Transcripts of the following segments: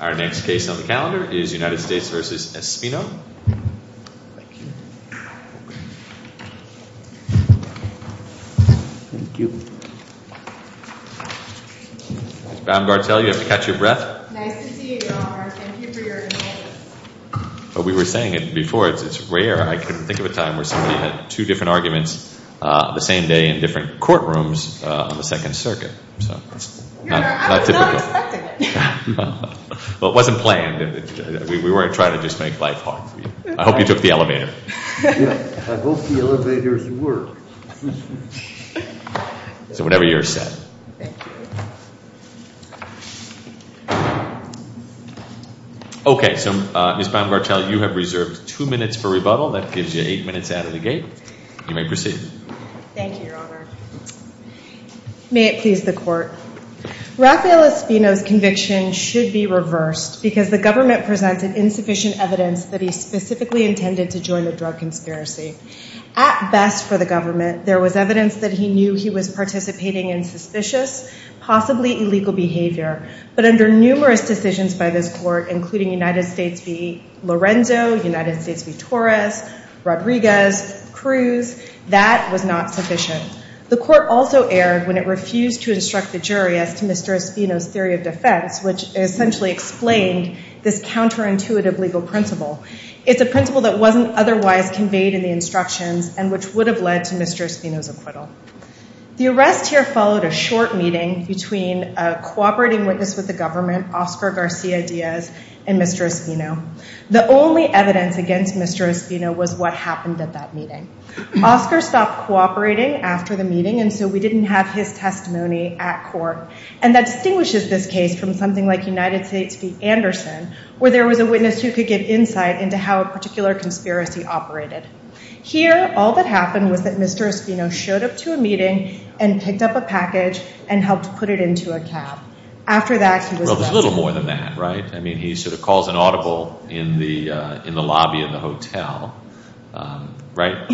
Our next case on the calendar is United States v. Espino. Thank you. Thank you. Ms. Baumgartel, you have to catch your breath. Nice to see you, John. Thank you for your indulgence. But we were saying it before, it's rare I couldn't think of a time where somebody had two different arguments the same day in different courtrooms on the Second Circuit. I was not expecting it. Well, it wasn't planned. We weren't trying to just make life hard for you. I hope you took the elevator. I hope the elevators work. So whatever you're set. Okay, so Ms. Baumgartel, you have reserved two minutes for rebuttal. That gives you eight minutes out of the gate. You may proceed. Thank you, Your Honor. May it please the Court. Rafael Espino's conviction should be reversed because the government presented insufficient evidence that he specifically intended to join the drug conspiracy. At best for the government, there was evidence that he knew he was participating in suspicious, possibly illegal behavior. But under numerous decisions by this Court, including United States v. Lorenzo, United States v. Torres, Rodriguez, Cruz, that was not sufficient. The Court also erred when it refused to instruct the jury as to Mr. Espino's theory of defense, which essentially explained this counterintuitive legal principle. It's a principle that wasn't otherwise conveyed in the instructions and which would have led to Mr. Espino's acquittal. The arrest here followed a short meeting between a cooperating witness with the government, Oscar Garcia Diaz, and Mr. Espino. The only evidence against Mr. Espino was what happened at that meeting. Oscar stopped cooperating after the meeting and so we didn't have his testimony at court. And that distinguishes this case from something like United States v. Anderson, where there was a witness who could give insight into how a particular conspiracy operated. Here, all that happened was that Mr. Espino showed up to a meeting and picked up a package and helped put it into a cab. After that, he was Well, there's a little more than that, right? I mean, he sort of calls an audible in the mouth, right?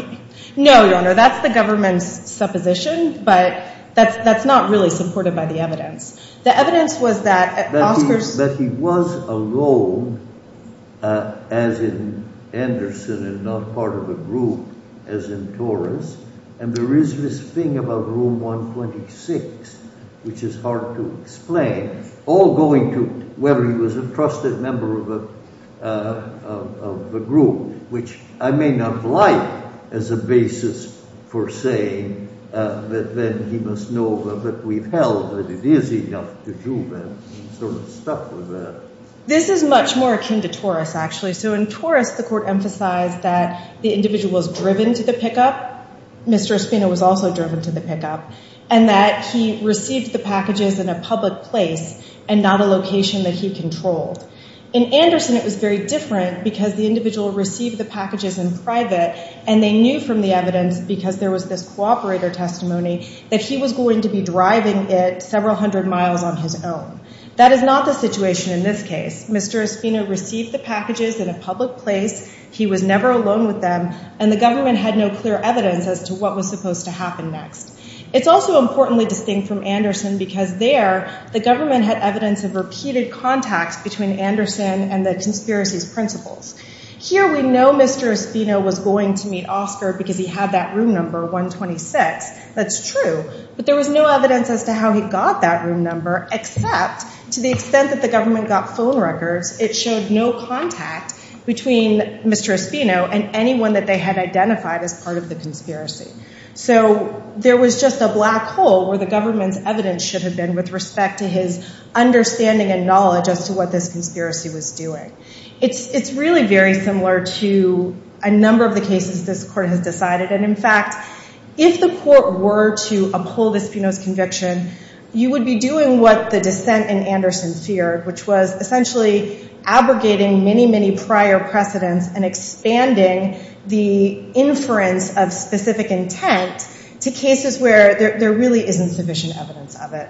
No, your honor, that's the government's supposition, but that's not really supported by the evidence. The evidence was that Oscar's But he was alone as in Anderson and not part of a group as in Torres, and there is this thing about Room 126, which is hard to explain, all going to whether he was a trusted member of a group, which I may not like as a basis for saying that then he must know that we've held that it is enough to do that. He's sort of stuck with that. This is much more akin to Torres, actually. So in Torres, the court emphasized that the individual was driven to the pickup, Mr. Espino was also driven to the pickup, and that he received the packages in a public place and not a location that he controlled. In Anderson, it was very different because the individual received the packages in private and they knew from the evidence, because there was this cooperator testimony, that he was going to be driving it several hundred miles on his own. That is not the situation in this case. Mr. Espino received the packages in a public place, he was never alone with them, and the government had no clear evidence as to what was supposed to happen next. It's also importantly distinct from Anderson because there, the government had evidence of repeated contacts between Anderson and the conspiracy's principals. Here we know Mr. Espino was going to meet Oscar because he had that room number 126, that's true, but there was no evidence as to how he got that room number except to the extent that the government got phone records, it showed no contact between Mr. Espino and anyone that they had identified as part of the conspiracy. So there was just a black hole where the government's evidence should have been with respect to his understanding and knowledge as to what this conspiracy was doing. It's really very similar to a number of the cases this court has decided, and in fact, if the court were to uphold Espino's conviction, you would be doing what the dissent in Anderson feared, which was essentially abrogating many, many prior precedents and expanding the inference of specific intent to cases where there really isn't sufficient evidence of it.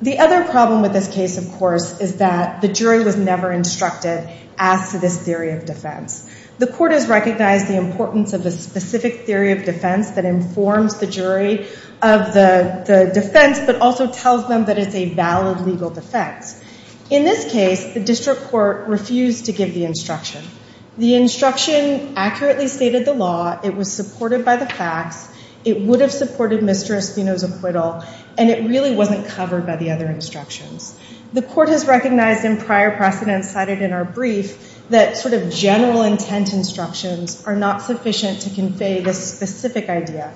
The other problem with this case, of course, is that the jury was never instructed as to this theory of defense. The court has recognized the importance of the specific theory of defense that informs the jury of the defense, but also tells them that it's a valid legal defense. In this case, the district court refused to give the instruction. The instruction accurately stated the law, it was supported by the facts, it would have supported Mr. Espino's acquittal, and it really wasn't covered by the other instructions. The court has recognized in prior precedents cited in our brief that sort of general intent instructions are not sufficient to convey this specific idea.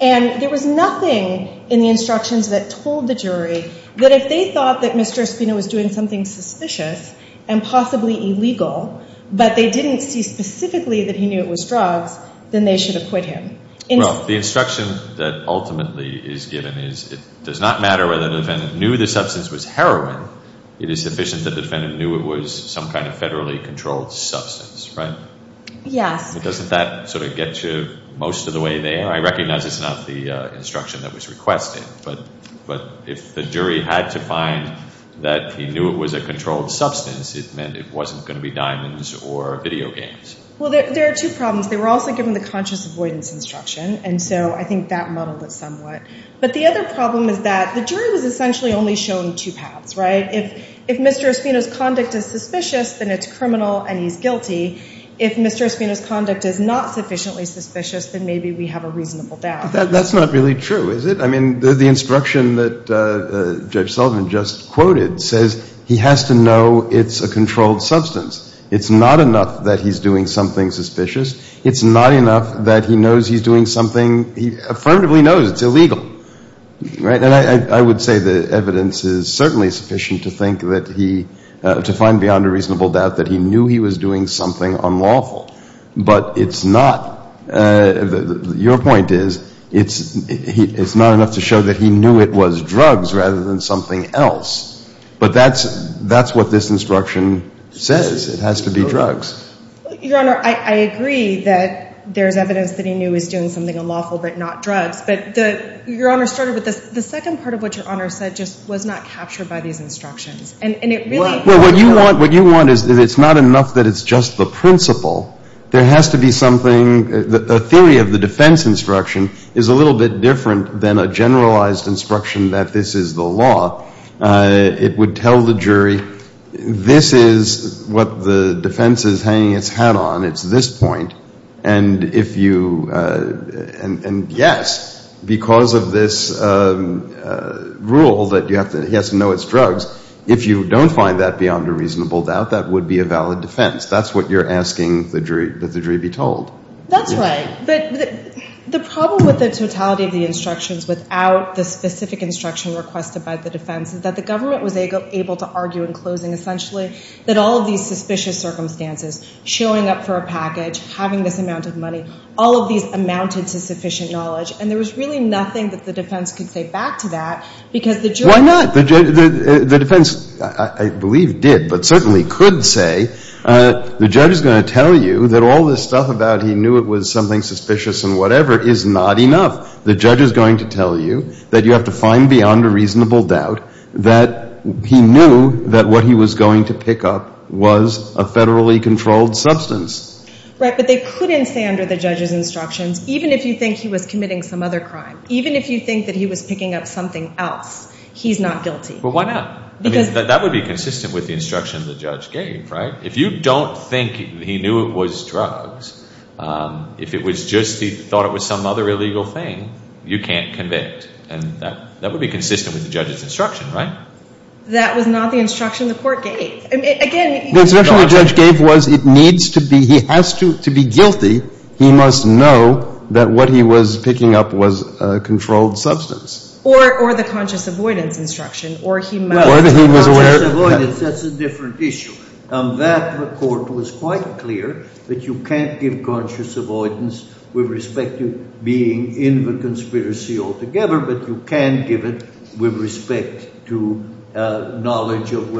And there was nothing in the instructions that told the jury that if they thought that Mr. Espino was doing something suspicious and possibly illegal, but they didn't see specifically that he knew it was drugs, then they should acquit him. Well, the instruction that ultimately is given is it does not matter whether the defendant knew the substance was heroin, it is sufficient that the defendant knew it was some kind of federally controlled substance, right? Yes. But doesn't that sort of get you most of the way there? I recognize it's not the instruction that was requested, but if the jury had to find that he knew it was a controlled substance, it meant it wasn't going to be diamonds or video games. Well, there are two problems. They were also given the conscious avoidance instruction, and so I think that muddled it somewhat. But the other problem is that the jury was essentially only shown two paths, right? If Mr. Espino's conduct is suspicious, then it's criminal and he's guilty. If Mr. Espino's conduct is not sufficiently suspicious, then maybe we have a reasonable doubt. That's not really true, is it? I mean, the instruction that Judge Sullivan just quoted says he has to know it's a controlled substance. It's not enough that he's doing something suspicious. It's not enough that he knows he's doing something he affirmatively knows it's illegal, right? And I would say the evidence is certainly sufficient to think that he to find beyond a reasonable doubt that he knew he was doing something unlawful. But it's not. Your point is it's not enough to show that he knew it was drugs rather than something else. But that's what this instruction says. It has to be drugs. Your Honor, I agree that there's evidence that he knew he was doing something unlawful but not drugs. But the Your Honor started with this. The second part of what Your Honor said just was not captured by these instructions. And it really What you want is it's not enough that it's just the principle. There has to be something A theory of the defense instruction is a little bit different than a generalized instruction that this is the law. It would tell the jury this is what the defense is hanging its hat on. It's this point. And if you Yes, because of this rule that he has to know it's drugs. If you don't find that beyond a reasonable doubt, that would be a valid defense. That's what you're asking the jury be told. That's right. But the problem with the totality of the instructions without the specific instruction requested by the defense is that the government was able to argue in closing essentially that all of these suspicious circumstances, showing up for a package, having this amount of money, all of these amounted to sufficient knowledge. And there was really nothing that the defense could say back to that because the jury Why not? The defense I believe did but certainly could say the judge is going to tell you that all this stuff about he knew it was something suspicious and whatever is not enough. The judge is going to tell you that you have to find beyond a reasonable doubt that he knew that what he was going to pick up was a federally controlled substance. Right. But they couldn't say under the judge's instructions, even if you think he was committing some other crime, even if you think that he was picking up something else, he's not guilty. But why not? Because that would be consistent with the instruction the judge gave, right? If you don't think he knew it was drugs, if it was just he thought it was some other illegal thing, you can't be consistent with the judge's instruction, right? That was not the instruction the court gave. Again, the instruction the judge gave was it needs to be, he has to be guilty. He must know that what he was picking up was a controlled substance. Or the conscious avoidance instruction. Or he must be conscious avoidance. That's a different issue. That, the court was quite clear, that you can't give conscious avoidance with respect to being in the conspiracy altogether, but you can give it with respect to knowledge of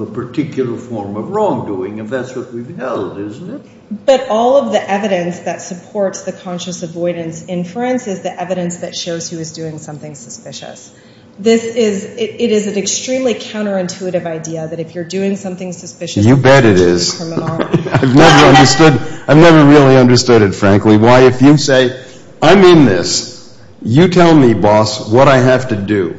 a particular form of wrongdoing if that's what we've held, isn't it? But all of the evidence that supports the conscious avoidance inference is the evidence that shows he was doing something suspicious. This is, it is an extremely counterintuitive idea that if you're doing something suspicious, you're doing it criminally. You bet it is. I've never really understood it, frankly, why if you say I'm in this. You tell me, boss, what I have to do.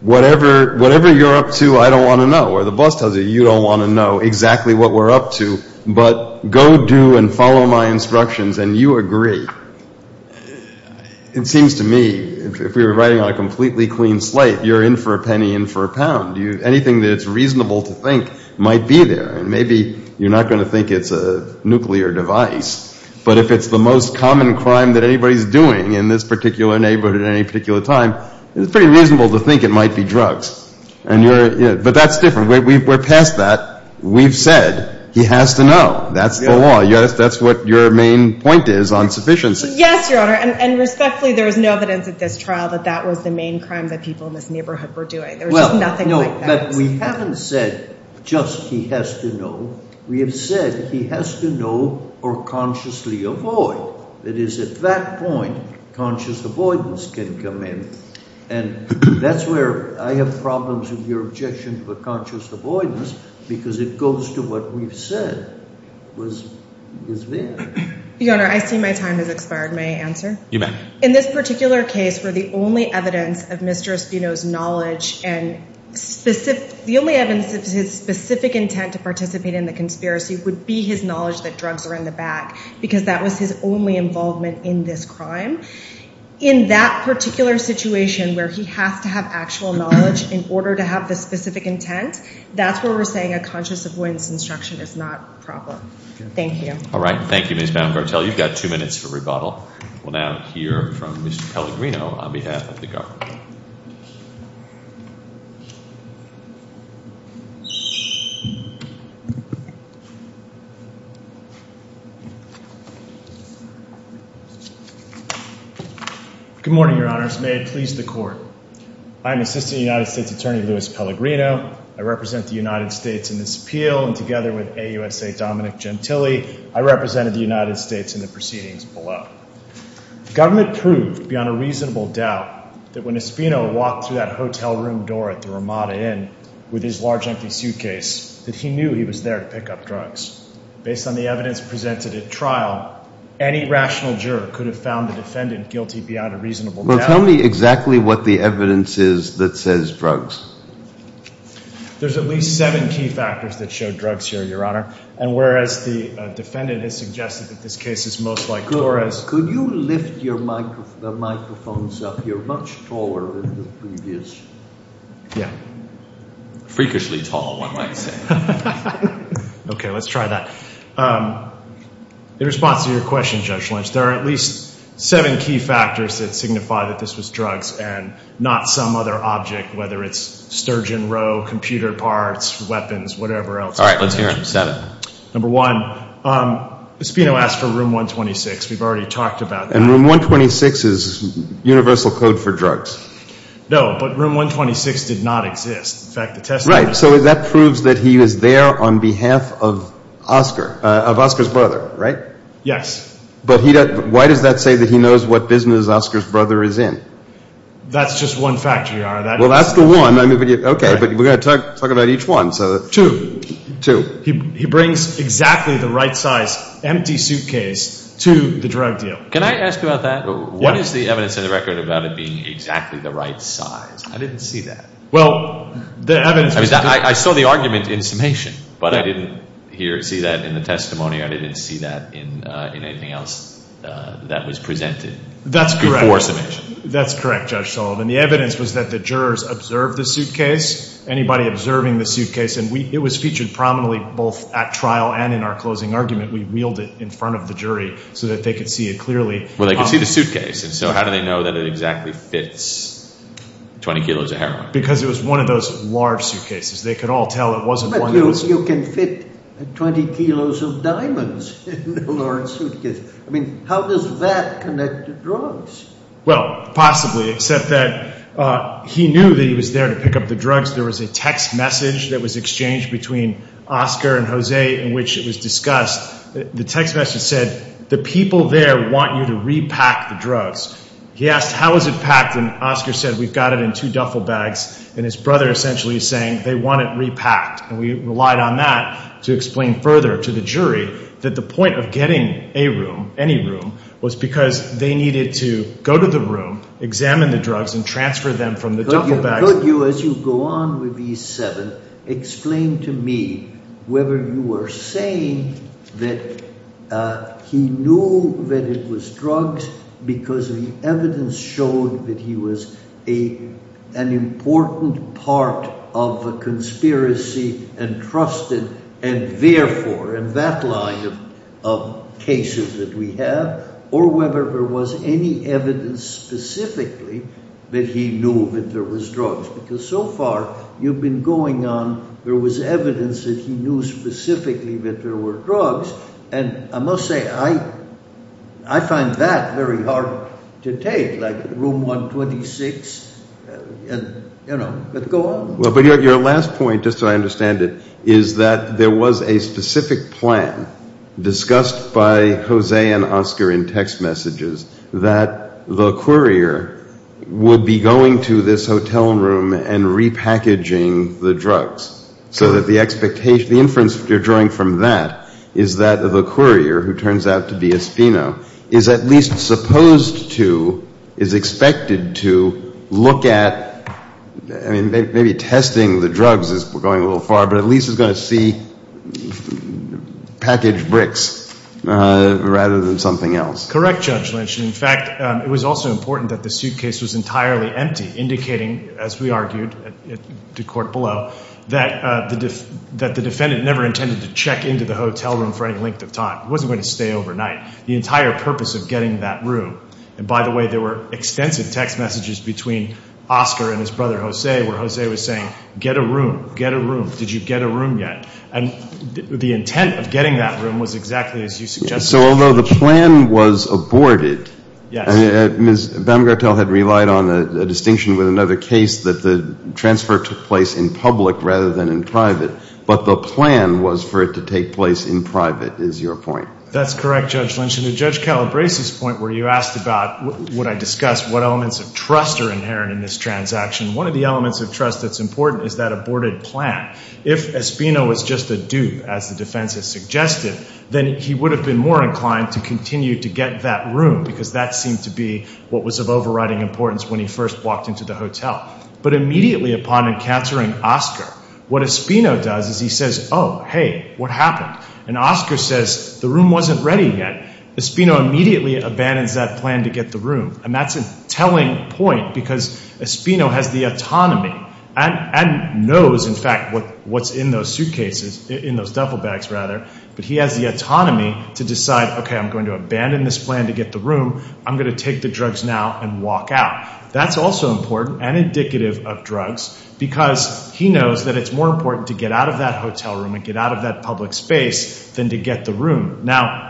Whatever you're up to, I don't want to know. Or the boss tells you you don't want to know exactly what we're up to, but go do and follow my instructions and you agree. It seems to me, if we were writing on a completely clean slate, you're in for a penny in for a pound. Anything that's reasonable to think might be there. And maybe you're not going to think it's a nuclear device. But if it's the most common crime that anybody's doing in this particular neighborhood at any particular time, it's pretty reasonable to think it might be drugs. But that's different. We're past that. We've said he has to know. That's the law. That's what your main point is on sufficiency. Yes, Your Honor. And respectfully, there is no evidence at this trial that that was the main crime that people in this neighborhood were doing. There's just nothing like that. We haven't said just he has to know. We have said he has to know or consciously avoid. That is, at that point, conscious avoidance can come in. And that's where I have problems with your objection to a conscious avoidance because it goes to what we've said is there. Your Honor, I see my time has expired. May I answer? You may. In this particular case, were the only evidence of Mr. Espino's knowledge and the only evidence of his specific intent to participate in the conspiracy would be his knowledge that drugs are in the bag because that was his only involvement in this crime. In that particular situation where he has to have actual knowledge in order to have the specific intent, that's where we're saying a conscious avoidance instruction is not proper. Thank you. All right. Thank you, Ms. Baumgartel. You've got two minutes for rebuttal. We'll now hear from Mr. Pellegrino on behalf of the government. Mr. Pellegrino. Good morning, Your Honors. May it please the Court. I am Assistant United States Attorney Louis Pellegrino. I represent the United States in this appeal, and together with AUSA Dominic Gentile, I represented the United States in the proceedings below. The government proved beyond a reasonable doubt that when Espino walked through that hotel room door at the Ramada Inn with his large, empty suitcase, that he knew he was there to pick up drugs. Based on the evidence presented at trial, any rational juror could have found the defendant guilty beyond a reasonable doubt. Well, tell me exactly what the evidence is that says drugs. There's at least seven key factors that show drugs here, Your Honor, and whereas the defendant has suggested that this case is most like Torres' case, could you lift your microphones up here much taller than the previous? Freakishly tall, one might say. In response to your question, Judge Lynch, there are at least seven key factors that signify that this was drugs and not some other object, whether it's sturgeon roe, computer parts, weapons, whatever else is present. Number one, Espino asked for room 126. We've already talked about that. And room 126 is universal code for drugs. No, but room 126 did not exist. Right, so that proves that he was there on behalf of Oscar, of Oscar's brother, right? Yes. But why does that say that he knows what business Oscar's brother is in? That's just one factor, Your Honor. Well, that's the one. Okay, but we're going to talk about each one. Two. He brings exactly the right size empty suitcase to the drug deal. Can I ask about that? What is the evidence in the record about it being exactly the right size? I didn't see that. I saw the argument in summation, but I didn't see that in the testimony. I didn't see that in anything else that was presented before summation. That's correct, Judge Sullivan. The evidence was that the jurors observed the suitcase. Anybody observing the suitcase, and it was featured prominently both at trial and in our closing argument. We wheeled it in front of the jury so that they could see it clearly. Well, they could see the suitcase, and so how do they know that it exactly fits 20 kilos of heroin? Because it was one of those large suitcases. They could all tell it wasn't one of those. But you can fit 20 kilos of diamonds in a large suitcase. I mean, how does that connect to drugs? Well, possibly, except that he knew that he was there to pick up the drugs. There was a text message that was exchanged between Oscar and Jose in which it was discussed. The text message said, the people there want you to repack the drugs. He asked, how is it packed? And Oscar said, we've got it in two duffel bags. And his brother essentially is saying, they want it repacked. And we relied on that to explain further to the jury that the point of getting a room, any room, was because they needed to go to the room, examine the drugs, and transfer them from the duffel bag... Could you, as you go on with E7, explain to me whether you were saying that he knew that it was drugs because the evidence showed that he was an important part of the conspiracy and trusted, and therefore, in that line of cases that we have, or whether there was any evidence specifically that he knew that there was drugs. Because so far, you've been going on, there was evidence that he knew specifically that there were drugs, and I must say, I find that very hard to take, like Room 126. But go on. But your last point, just so I understand it, is that there was a specific plan discussed by the judges that the courier would be going to this hotel room and repackaging the drugs so that the inference you're drawing from that is that the courier, who turns out to be Espino, is at least supposed to, is expected to, look at, I mean, maybe testing the drugs is going a little far, but at least is going to see packaged bricks rather than something else. Correct, Judge Lynch. In fact, it was also important that the suitcase was entirely empty, indicating, as we argued at the court below, that the defendant never intended to check into the hotel room for any length of time. It wasn't going to stay overnight. The entire purpose of getting that room, and by the way, there were extensive text messages between Oscar and his brother, Jose, where Jose was saying, get a room, get a room, did you get a room yet? And the intent of getting that room was exactly as you suggested. So although the plan was aborted, Ms. Baumgartel had relied on a distinction with another case that the transfer took place in public rather than in private, but the plan was for it to take place in private, is your point. That's correct, Judge Lynch. And to Judge Calabresi's point where you asked about, would I discuss what elements of trust are inherent in this transaction, one of the elements of trust that's important is that aborted plan. If Espino was just a dupe, as the defense has suggested, then he would have been more inclined to continue to get that room because that seemed to be what was of overriding importance when he first walked into the hotel. But immediately upon encountering Oscar, what Espino does is he says, oh, hey, what happened? And Oscar says, the room wasn't ready yet. Espino immediately abandons that plan to get the room, and that's a telling point because Espino has the autonomy and knows, in fact, what's in those suitcases, in those duffel bags, rather, but he has the autonomy to decide, okay, I'm going to abandon this plan to get the room, I'm going to take the drugs now and walk out. That's also important and indicative of drugs because he knows that it's more important to get out of that hotel room and get out of that public space than to get the room. Now,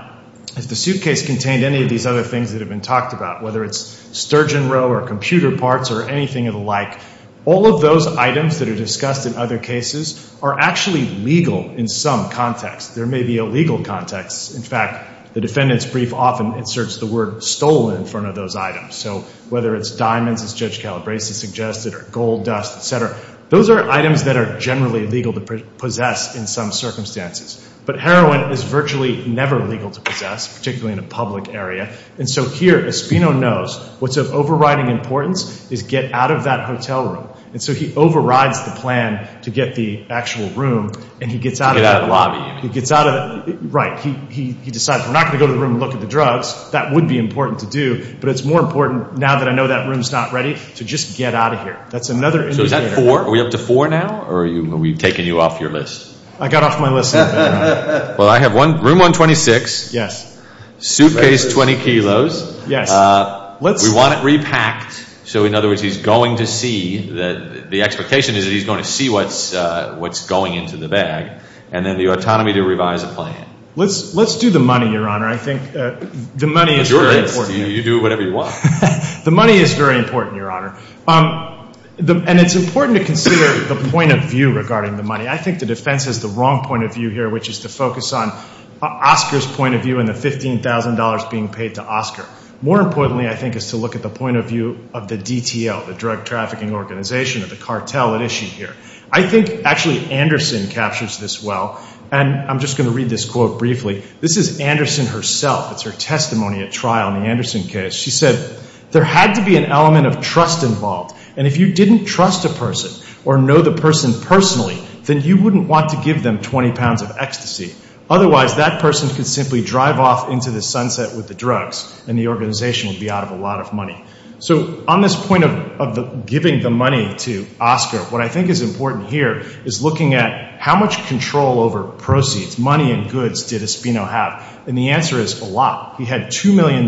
if the suitcase contained any of these other things that have been talked about, whether it's sturgeon roe or computer parts or anything of the like, all of those items that are discussed in other cases are actually legal in some contexts. There may be illegal contexts. In fact, the defendant's brief often inserts the word stolen in front of those items. So whether it's diamonds, as Judge Calabresi suggested, or gold dust, et cetera, those are items that are generally legal to possess in some circumstances. But heroin is virtually never legal to possess, particularly in a public area, and so here Espino knows what's of overriding importance is get out of that hotel room. And so he overrides the plan to get the actual room and he gets out of that. He gets out of that. Right. He decides we're not going to go to the room and look at the drugs. That would be important to do, but it's more important now that I know that room's not ready to just get out of here. That's another indicator. So is that four? Are we up to four now or are we taking you off your list? I got off my list. Well, I have room 126, suitcase 20 kilos. We want it repacked. So in other words, he's going to see, the expectation is that he's going to see what's going into the bag. And then the autonomy to revise the plan. Let's do the money, Your Honor. I think the money is very important. You do whatever you want. The money is very important, Your Honor. And it's important to consider the point of view regarding the money. I think the defense has the wrong point of view here, which is to focus on Oscar's point of view and the $15,000 being paid to Oscar. More importantly, I think, is to look at the point of view of the DTL, the drug trafficking organization, or the cartel at issue here. I think, actually, Anderson captures this well. And I'm just going to read this quote briefly. This is Anderson herself. It's her testimony at trial in the Anderson case. She said, there had to be an element of trust involved. And if you didn't trust a person or know the person personally, then you wouldn't want to give them 20 pounds of ecstasy. Otherwise, that person could simply drive off into the sunset with the drugs and the organization would be out of a lot of money. So on this point of giving the money to Oscar, what I think is important here is looking at how much control over proceeds, money and goods, did Espino have. And the answer is a lot. He had $2 million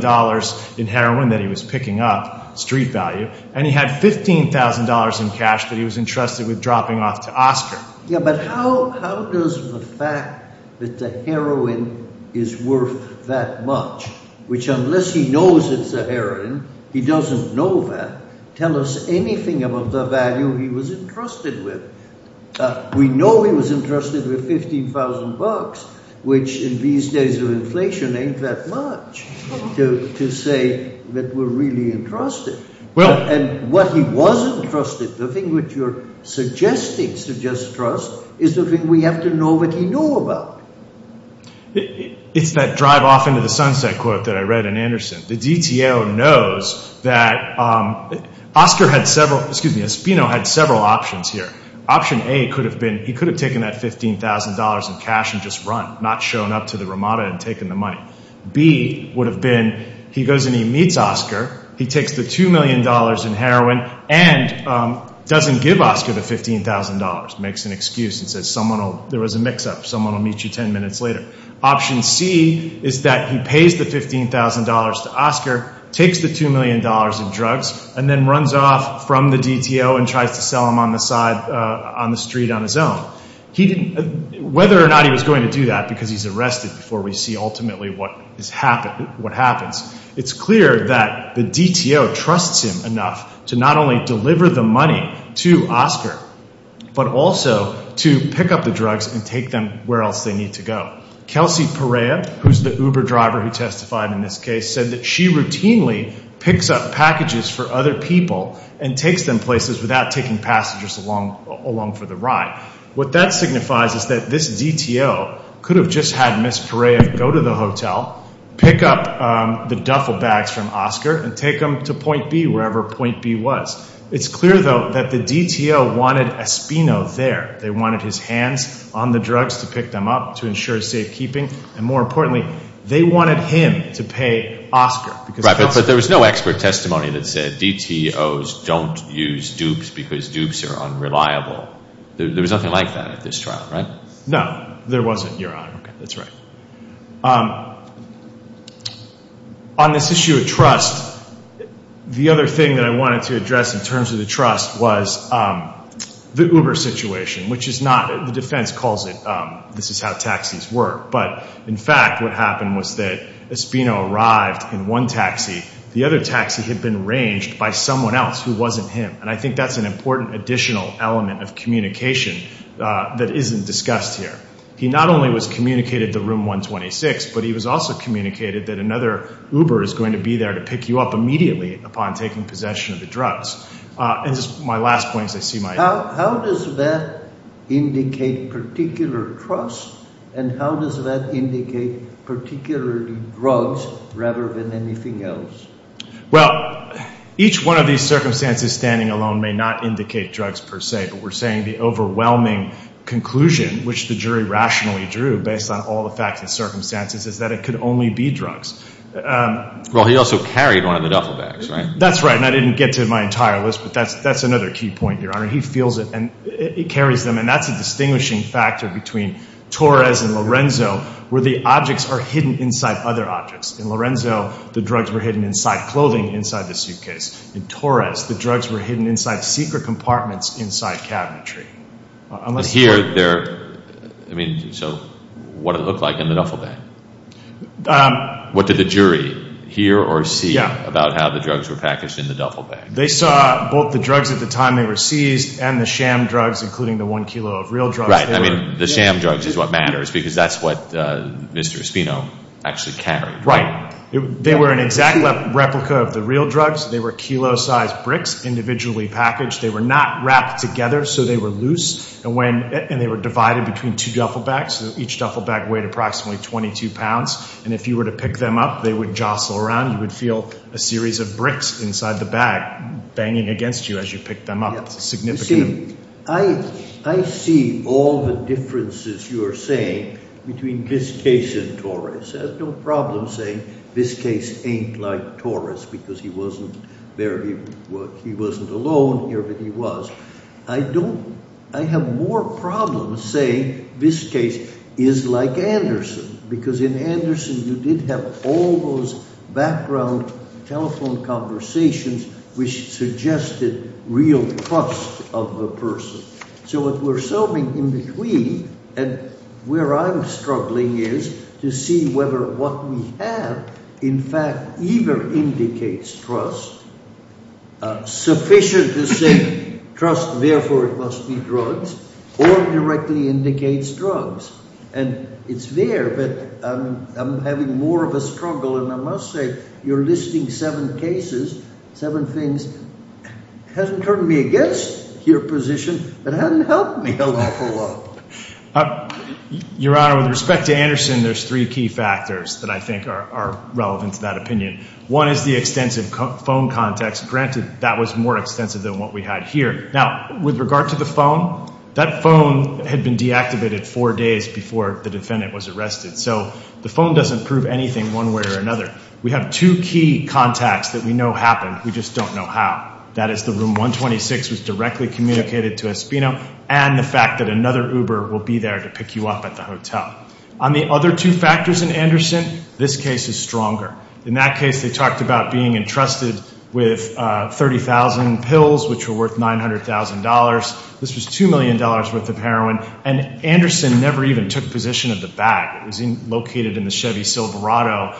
in heroin that he was picking up, street value, and he had $15,000 in cash that he was entrusted with dropping off to Oscar. Yeah, but how does the fact that the heroin is worth that much, which unless he knows it's a heroin, he doesn't know that, tell us anything about the value he was entrusted with? We know he was entrusted with $15,000, which in these days of inflation ain't that much to say that we're really entrusted. And what he was entrusted, the thing which you're suggesting suggests to us is the thing we have to know what he knew about. It's that drive off into the sunset quote that I read in Anderson. The DTO knows that Espino had several options here. Option A could have been, he could have taken that $15,000 in cash and just run, not shown up to the Ramada and taken the money. B would have been, he goes and he meets Oscar, he takes the $2 million in heroin and doesn't give Oscar the $15,000, makes an excuse and says there was a mix up, someone will meet you 10 minutes later. Option C is that he pays the $15,000 to Oscar, takes the $2 million in drugs, and then runs off from the DTO and tries to sell him on the street on his own. Whether or not he was going to do that, because he's arrested before we see ultimately what happens, it's clear that the DTO trusts him enough to not only deliver the money to Oscar but also to pick up the drugs and take them where else they need to go. Kelsey Perea, who's the Uber driver who testified in this case said that she routinely picks up packages for other people and takes them places without taking passengers along for the ride. What that signifies is that this DTO could have just had Ms. Perea go to the hotel, pick up the duffel bags from wherever Point B was. It's clear, though, that the DTO wanted Espino there. They wanted his hands on the drugs to pick them up to ensure safekeeping, and more importantly, they wanted him to pay Oscar. Right, but there was no expert testimony that said DTOs don't use dupes because dupes are unreliable. There was nothing like that at this trial, right? No, there wasn't, Your Honor. On this issue of trust, the other thing that I wanted to address in terms of the trust was the Uber situation, which the defense calls it this is how taxis work, but in fact what happened was that Espino arrived in one taxi. The other taxi had been ranged by someone else who wasn't him, and I think that's an important additional element of communication that isn't discussed here. He not only was communicated to Room 126, but he was also communicated that another Uber is going to be there to pick you up immediately upon taking possession of the drugs. And just my last point as I see my... How does that indicate particular trust, and how does that indicate particularly drugs rather than anything else? Well, each one of these circumstances standing alone may not indicate drugs per se, but we're saying the overwhelming conclusion which the jury rationally drew based on all the facts and circumstances is that it could only be drugs. Well, he also carried one of the duffel bags, right? That's right, and I didn't get to my entire list, but that's another key point, Your Honor. He feels it, and he carries them, and that's a distinguishing factor between Torres and Lorenzo, where the objects are hidden inside other objects. In Lorenzo, the drugs were hidden inside clothing inside the suitcase. In Torres, the drugs were hidden inside secret compartments inside cabinetry. Here, they're... I mean, so what did it look like in the duffel bag? What did the jury hear or see about how the drugs were packaged in the duffel bag? They saw both the drugs at the time they were seized and the sham drugs, including the one kilo of real drugs. Right. I mean, the sham drugs is what matters, because that's what Mr. Espino actually carried, right? Right. They were an exact replica of the real drugs. They were kilo-sized bricks individually packaged. They were not wrapped together, so they were loose, and they were divided between two duffel bags. Each duffel bag weighed approximately 22 pounds, and if you were to pick them up, they would jostle around. You would feel a series of bricks inside the bag banging against you as you picked them up. It's a significant... You see, I see all the differences you're saying between this case and Torres. I have no problem saying this case ain't like Torres, because he wasn't... he wasn't alone here, but he was. I don't... I have more problems saying this case is like Anderson, because in Anderson you did have all those background telephone conversations which suggested real trust of the person. So what we're solving in between, and where I'm struggling is to see whether what we have, in fact, either indicates trust, sufficient to say trust, therefore it must be drugs, or directly indicates drugs. And it's there, but I'm having more of a struggle, and I must say, you're listing seven cases, seven things. It hasn't turned me against your position, but it hasn't helped me an awful lot. Your Honor, with respect to Anderson, there's three key factors that I think are relevant to that opinion. One is the extensive phone contacts. Granted, that was more extensive than what we had here. Now, with regard to the phone, that phone had been deactivated four days before the defendant was arrested, so the phone doesn't prove anything one way or another. We have two key contacts that we know happened, we just don't know how. That is the room 126 was directly communicated to Espino, and the fact that another Uber will be there to pick you up at the hotel. On the other two factors in Anderson, this case is stronger. In that case, they talked about being entrusted with 30,000 pills, which were worth $900,000. This was $2 million worth of heroin, and Anderson never even took possession of the bag. It was located in the Chevy Silverado.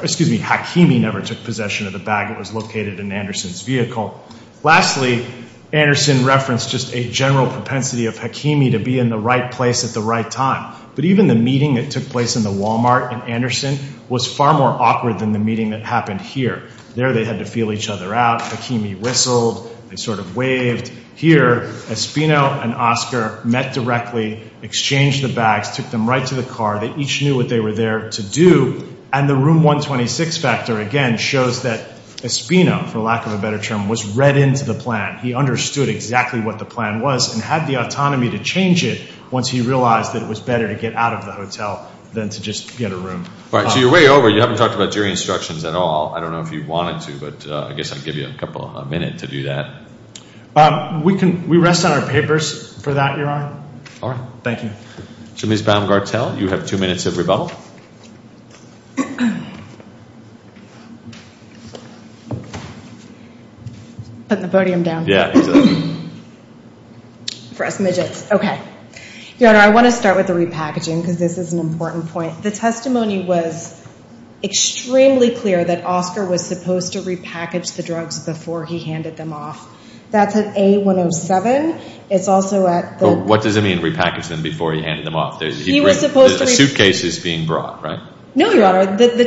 Excuse me, Hakimi never took possession of the bag. It was located in Anderson's vehicle. Lastly, Anderson referenced just a general propensity of Hakimi to be in the right place at the right time. But even the meeting that took place in the Walmart in Anderson was far more awkward than the meeting that happened here. There, they had to feel each other out. Hakimi whistled, they sort of waved. Here, Espino and Oscar met directly, exchanged the bags, took them right to the car. They each knew what they were there to do, and the room 126 factor, again, shows that Espino, for lack of a better term, was read into the plan. He understood exactly what the plan was and had the autonomy to change it once he realized that it was better to get out of the hotel than to just get a room. All right, so you're way over. You haven't talked about jury instructions at all. I don't know if you wanted to, but I guess I'd give you a couple of minutes to do that. We rest on our papers for that, Your Honor. All right. Thank you. So, Ms. Baumgartel, you have two minutes of rebuttal. Putting the podium down. Yeah. For us midgets. Okay. Your Honor, I want to start with the repackaging, because this is an important point. The testimony was extremely clear that Oscar was supposed to repackage the drugs before he handed them off. That's at A107. It's also at the... What does it mean, repackage them before he handed them off? He was supposed to... A suitcase is being brought, right? No, Your Honor. The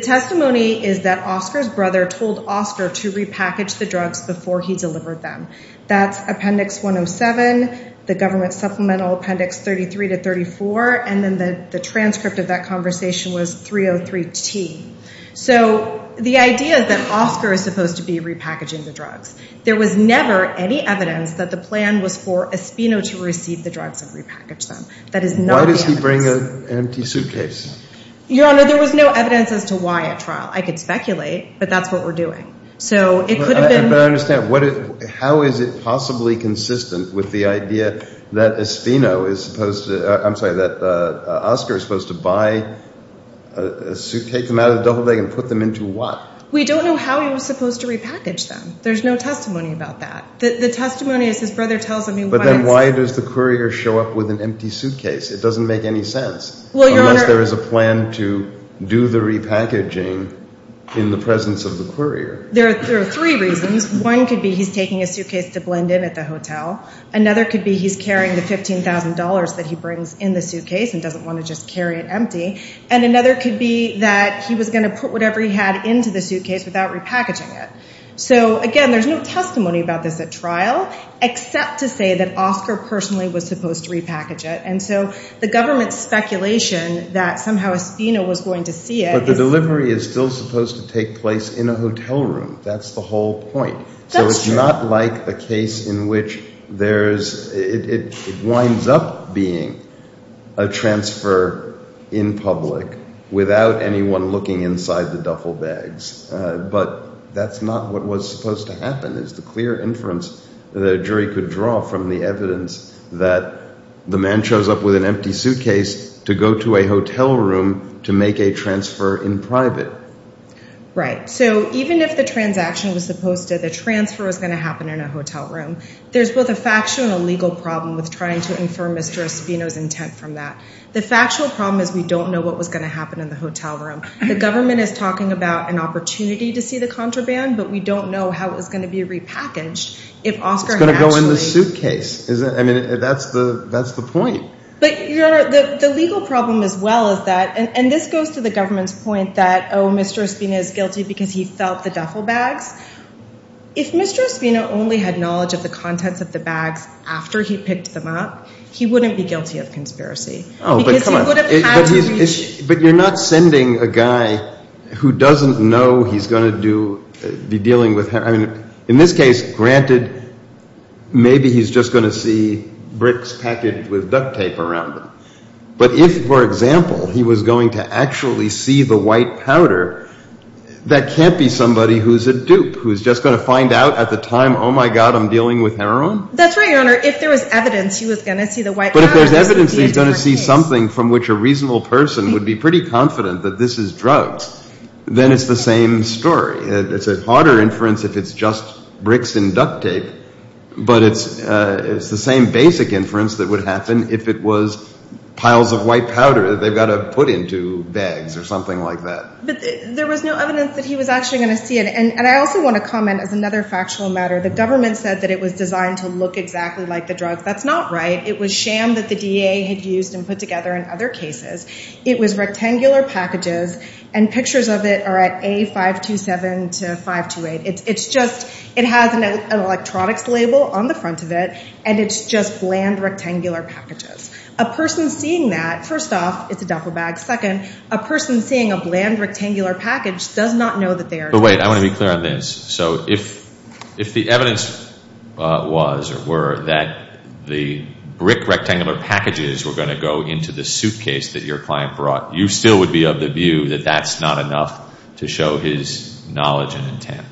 testimony is that Oscar's brother told Oscar to repackage the drugs before he delivered them. That's Appendix 107, the government supplemental Appendix 33-34, and then the transcript of that conversation was 303T. So, the idea that Oscar is supposed to be repackaging the drugs, there was never any evidence that the plan was for Espino to receive the drugs and repackage them. That is not the evidence. Why does he bring an empty suitcase? Your Honor, there was no evidence as to why at trial. I could speculate, but that's what we're doing. So, it could have been... But I understand. How is it possibly consistent with the idea that Espino is supposed to... I'm sorry, that Oscar is supposed to buy a suitcase, take them out of the duffel bag, and put them into what? We don't know how he was supposed to repackage them. There's no testimony about that. The testimony is his brother tells him he wants... But then why does the courier show up with an empty suitcase? It doesn't make any sense. Unless there is a plan to do the repackaging in the presence of the courier. There are three reasons. One could be he's taking a suitcase to blend in at the hotel. Another could be he's carrying the $15,000 that he brings in the suitcase and doesn't want to just carry it empty. And another could be that he was going to put whatever he had into the suitcase without repackaging it. So, again, there's no testimony about this at trial, except to say that Oscar personally was supposed to repackage it. And so, the government's speculation that somehow Espino was going to see it... But the delivery is still supposed to take place in a hotel room. That's the whole point. That's true. So it's not like a case in which there's... It winds up being a transfer in public without anyone looking inside the duffel bags. But that's not what was supposed to happen. It's the clear inference that a jury could draw from the evidence that the man shows up with an empty suitcase to go to a hotel room to make a transfer in private. Right. So, even if the transaction was supposed to... The transfer was going to happen in a hotel room, there's both a factual and a legal problem with trying to infer Mr. Espino's intent from that. The factual problem is we don't know what was going to happen in the hotel room. The government is talking about an opportunity to see the contraband, but we don't know how it was going to be repackaged if Oscar had actually... It's going to go in the suitcase. I mean, that's the point. But, Your Honor, the legal problem as well is that... And this goes to the government's point that, oh, Mr. Espino is guilty because he felt the duffel bags. If Mr. Espino only had knowledge of the contents of the bags after he picked them up, he wouldn't be guilty of conspiracy. Oh, but come on. But you're not sending a guy who doesn't know he's going to be dealing with... I mean, in this case, granted, maybe he's just going to see bricks packaged with duct tape around them. But if, for example, he was going to actually see the white powder, that can't be somebody who's a dupe, who's just going to find out at the time, oh, my God, I'm dealing with heroin? That's right, Your Honor. If there was evidence he was going to see the white powder... But if there's evidence he's going to see something from which a reasonable person would be pretty confident that this is drugs, then it's the same story. It's a harder inference if it's just bricks and duct tape, but it's the same basic inference that would happen if it was piles of white powder that they've got to put into bags or something like that. But there was no evidence that he was actually going to see it. And I also want to comment as another factual matter, the government said that it was designed to look exactly like the drugs. That's not right. It was sham that the DA had used and put together in other cases. It was rectangular packages, and pictures of it are at A527 to A528. It's just, it has an electronics label on the front of it, and it's just bland rectangular packages. A person seeing that, first off, it's a duffel bag. Second, a person seeing a bland rectangular package does not know that they are drugs. But wait, I want to be clear on this. So if the evidence was or were that the brick rectangular packages were going to go into the suitcase that your client brought, you still would be of the view that that's not enough to show his knowledge and intent?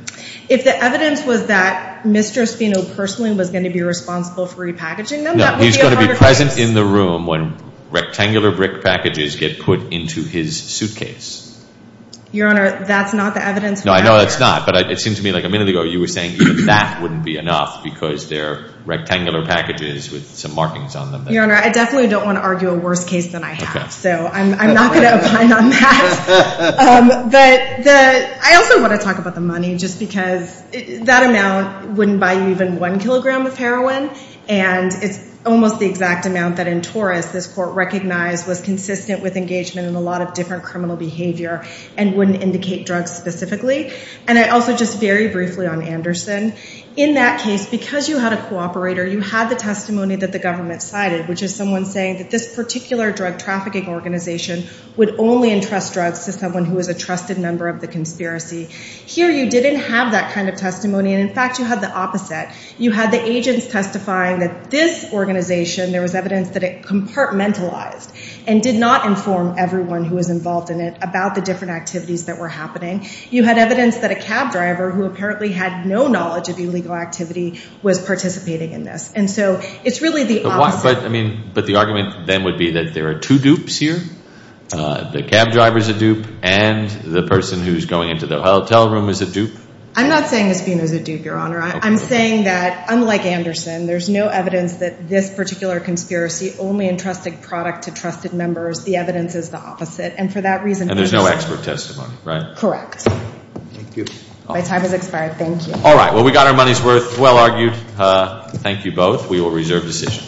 If the evidence was that Mr. Espino personally was going to be responsible for repackaging them, that would be a hard case. No, he's going to be present in the room when rectangular brick packages get put into his suitcase. Your Honor, that's not the evidence. No, I know it's not, but it seemed to me like a minute ago you were saying that wouldn't be enough because they're rectangular packages with some markings on them. Your Honor, I definitely don't want to argue a worse case than I have, so I'm not going to argue that. I also want to talk about the money, just because that amount wouldn't buy you even one kilogram of heroin, and it's almost the exact amount that in Taurus this court recognized was consistent with engagement in a lot of different criminal behavior and wouldn't indicate drugs specifically. And I also, just very briefly on Anderson, in that case, because you had a cooperator, you had the testimony that the government cited, which is someone saying that this particular drug trafficking organization would only entrust drugs to someone who was a trusted member of the conspiracy. Here you didn't have that kind of testimony, and in fact you had the opposite. You had the agents testifying that this organization, there was evidence that it compartmentalized and did not inform everyone who was involved in it about the different activities that were happening. You had evidence that a cab driver who apparently had no knowledge of illegal activity was participating in this. And so it's really the opposite. But the argument then would be that there are two dupes here. The cab driver's a dupe, and the person who's going into the hotel room is a dupe. I'm not saying this being a dupe, Your Honor. I'm saying that unlike Anderson, there's no evidence that this particular conspiracy only entrusted product to trusted members. The evidence is the opposite. And for that reason... And there's no expert testimony, right? Correct. My time has expired. Thank you. All right. Well, we got our money's worth. Well argued. Thank you both. We will reserve decision. Thank you.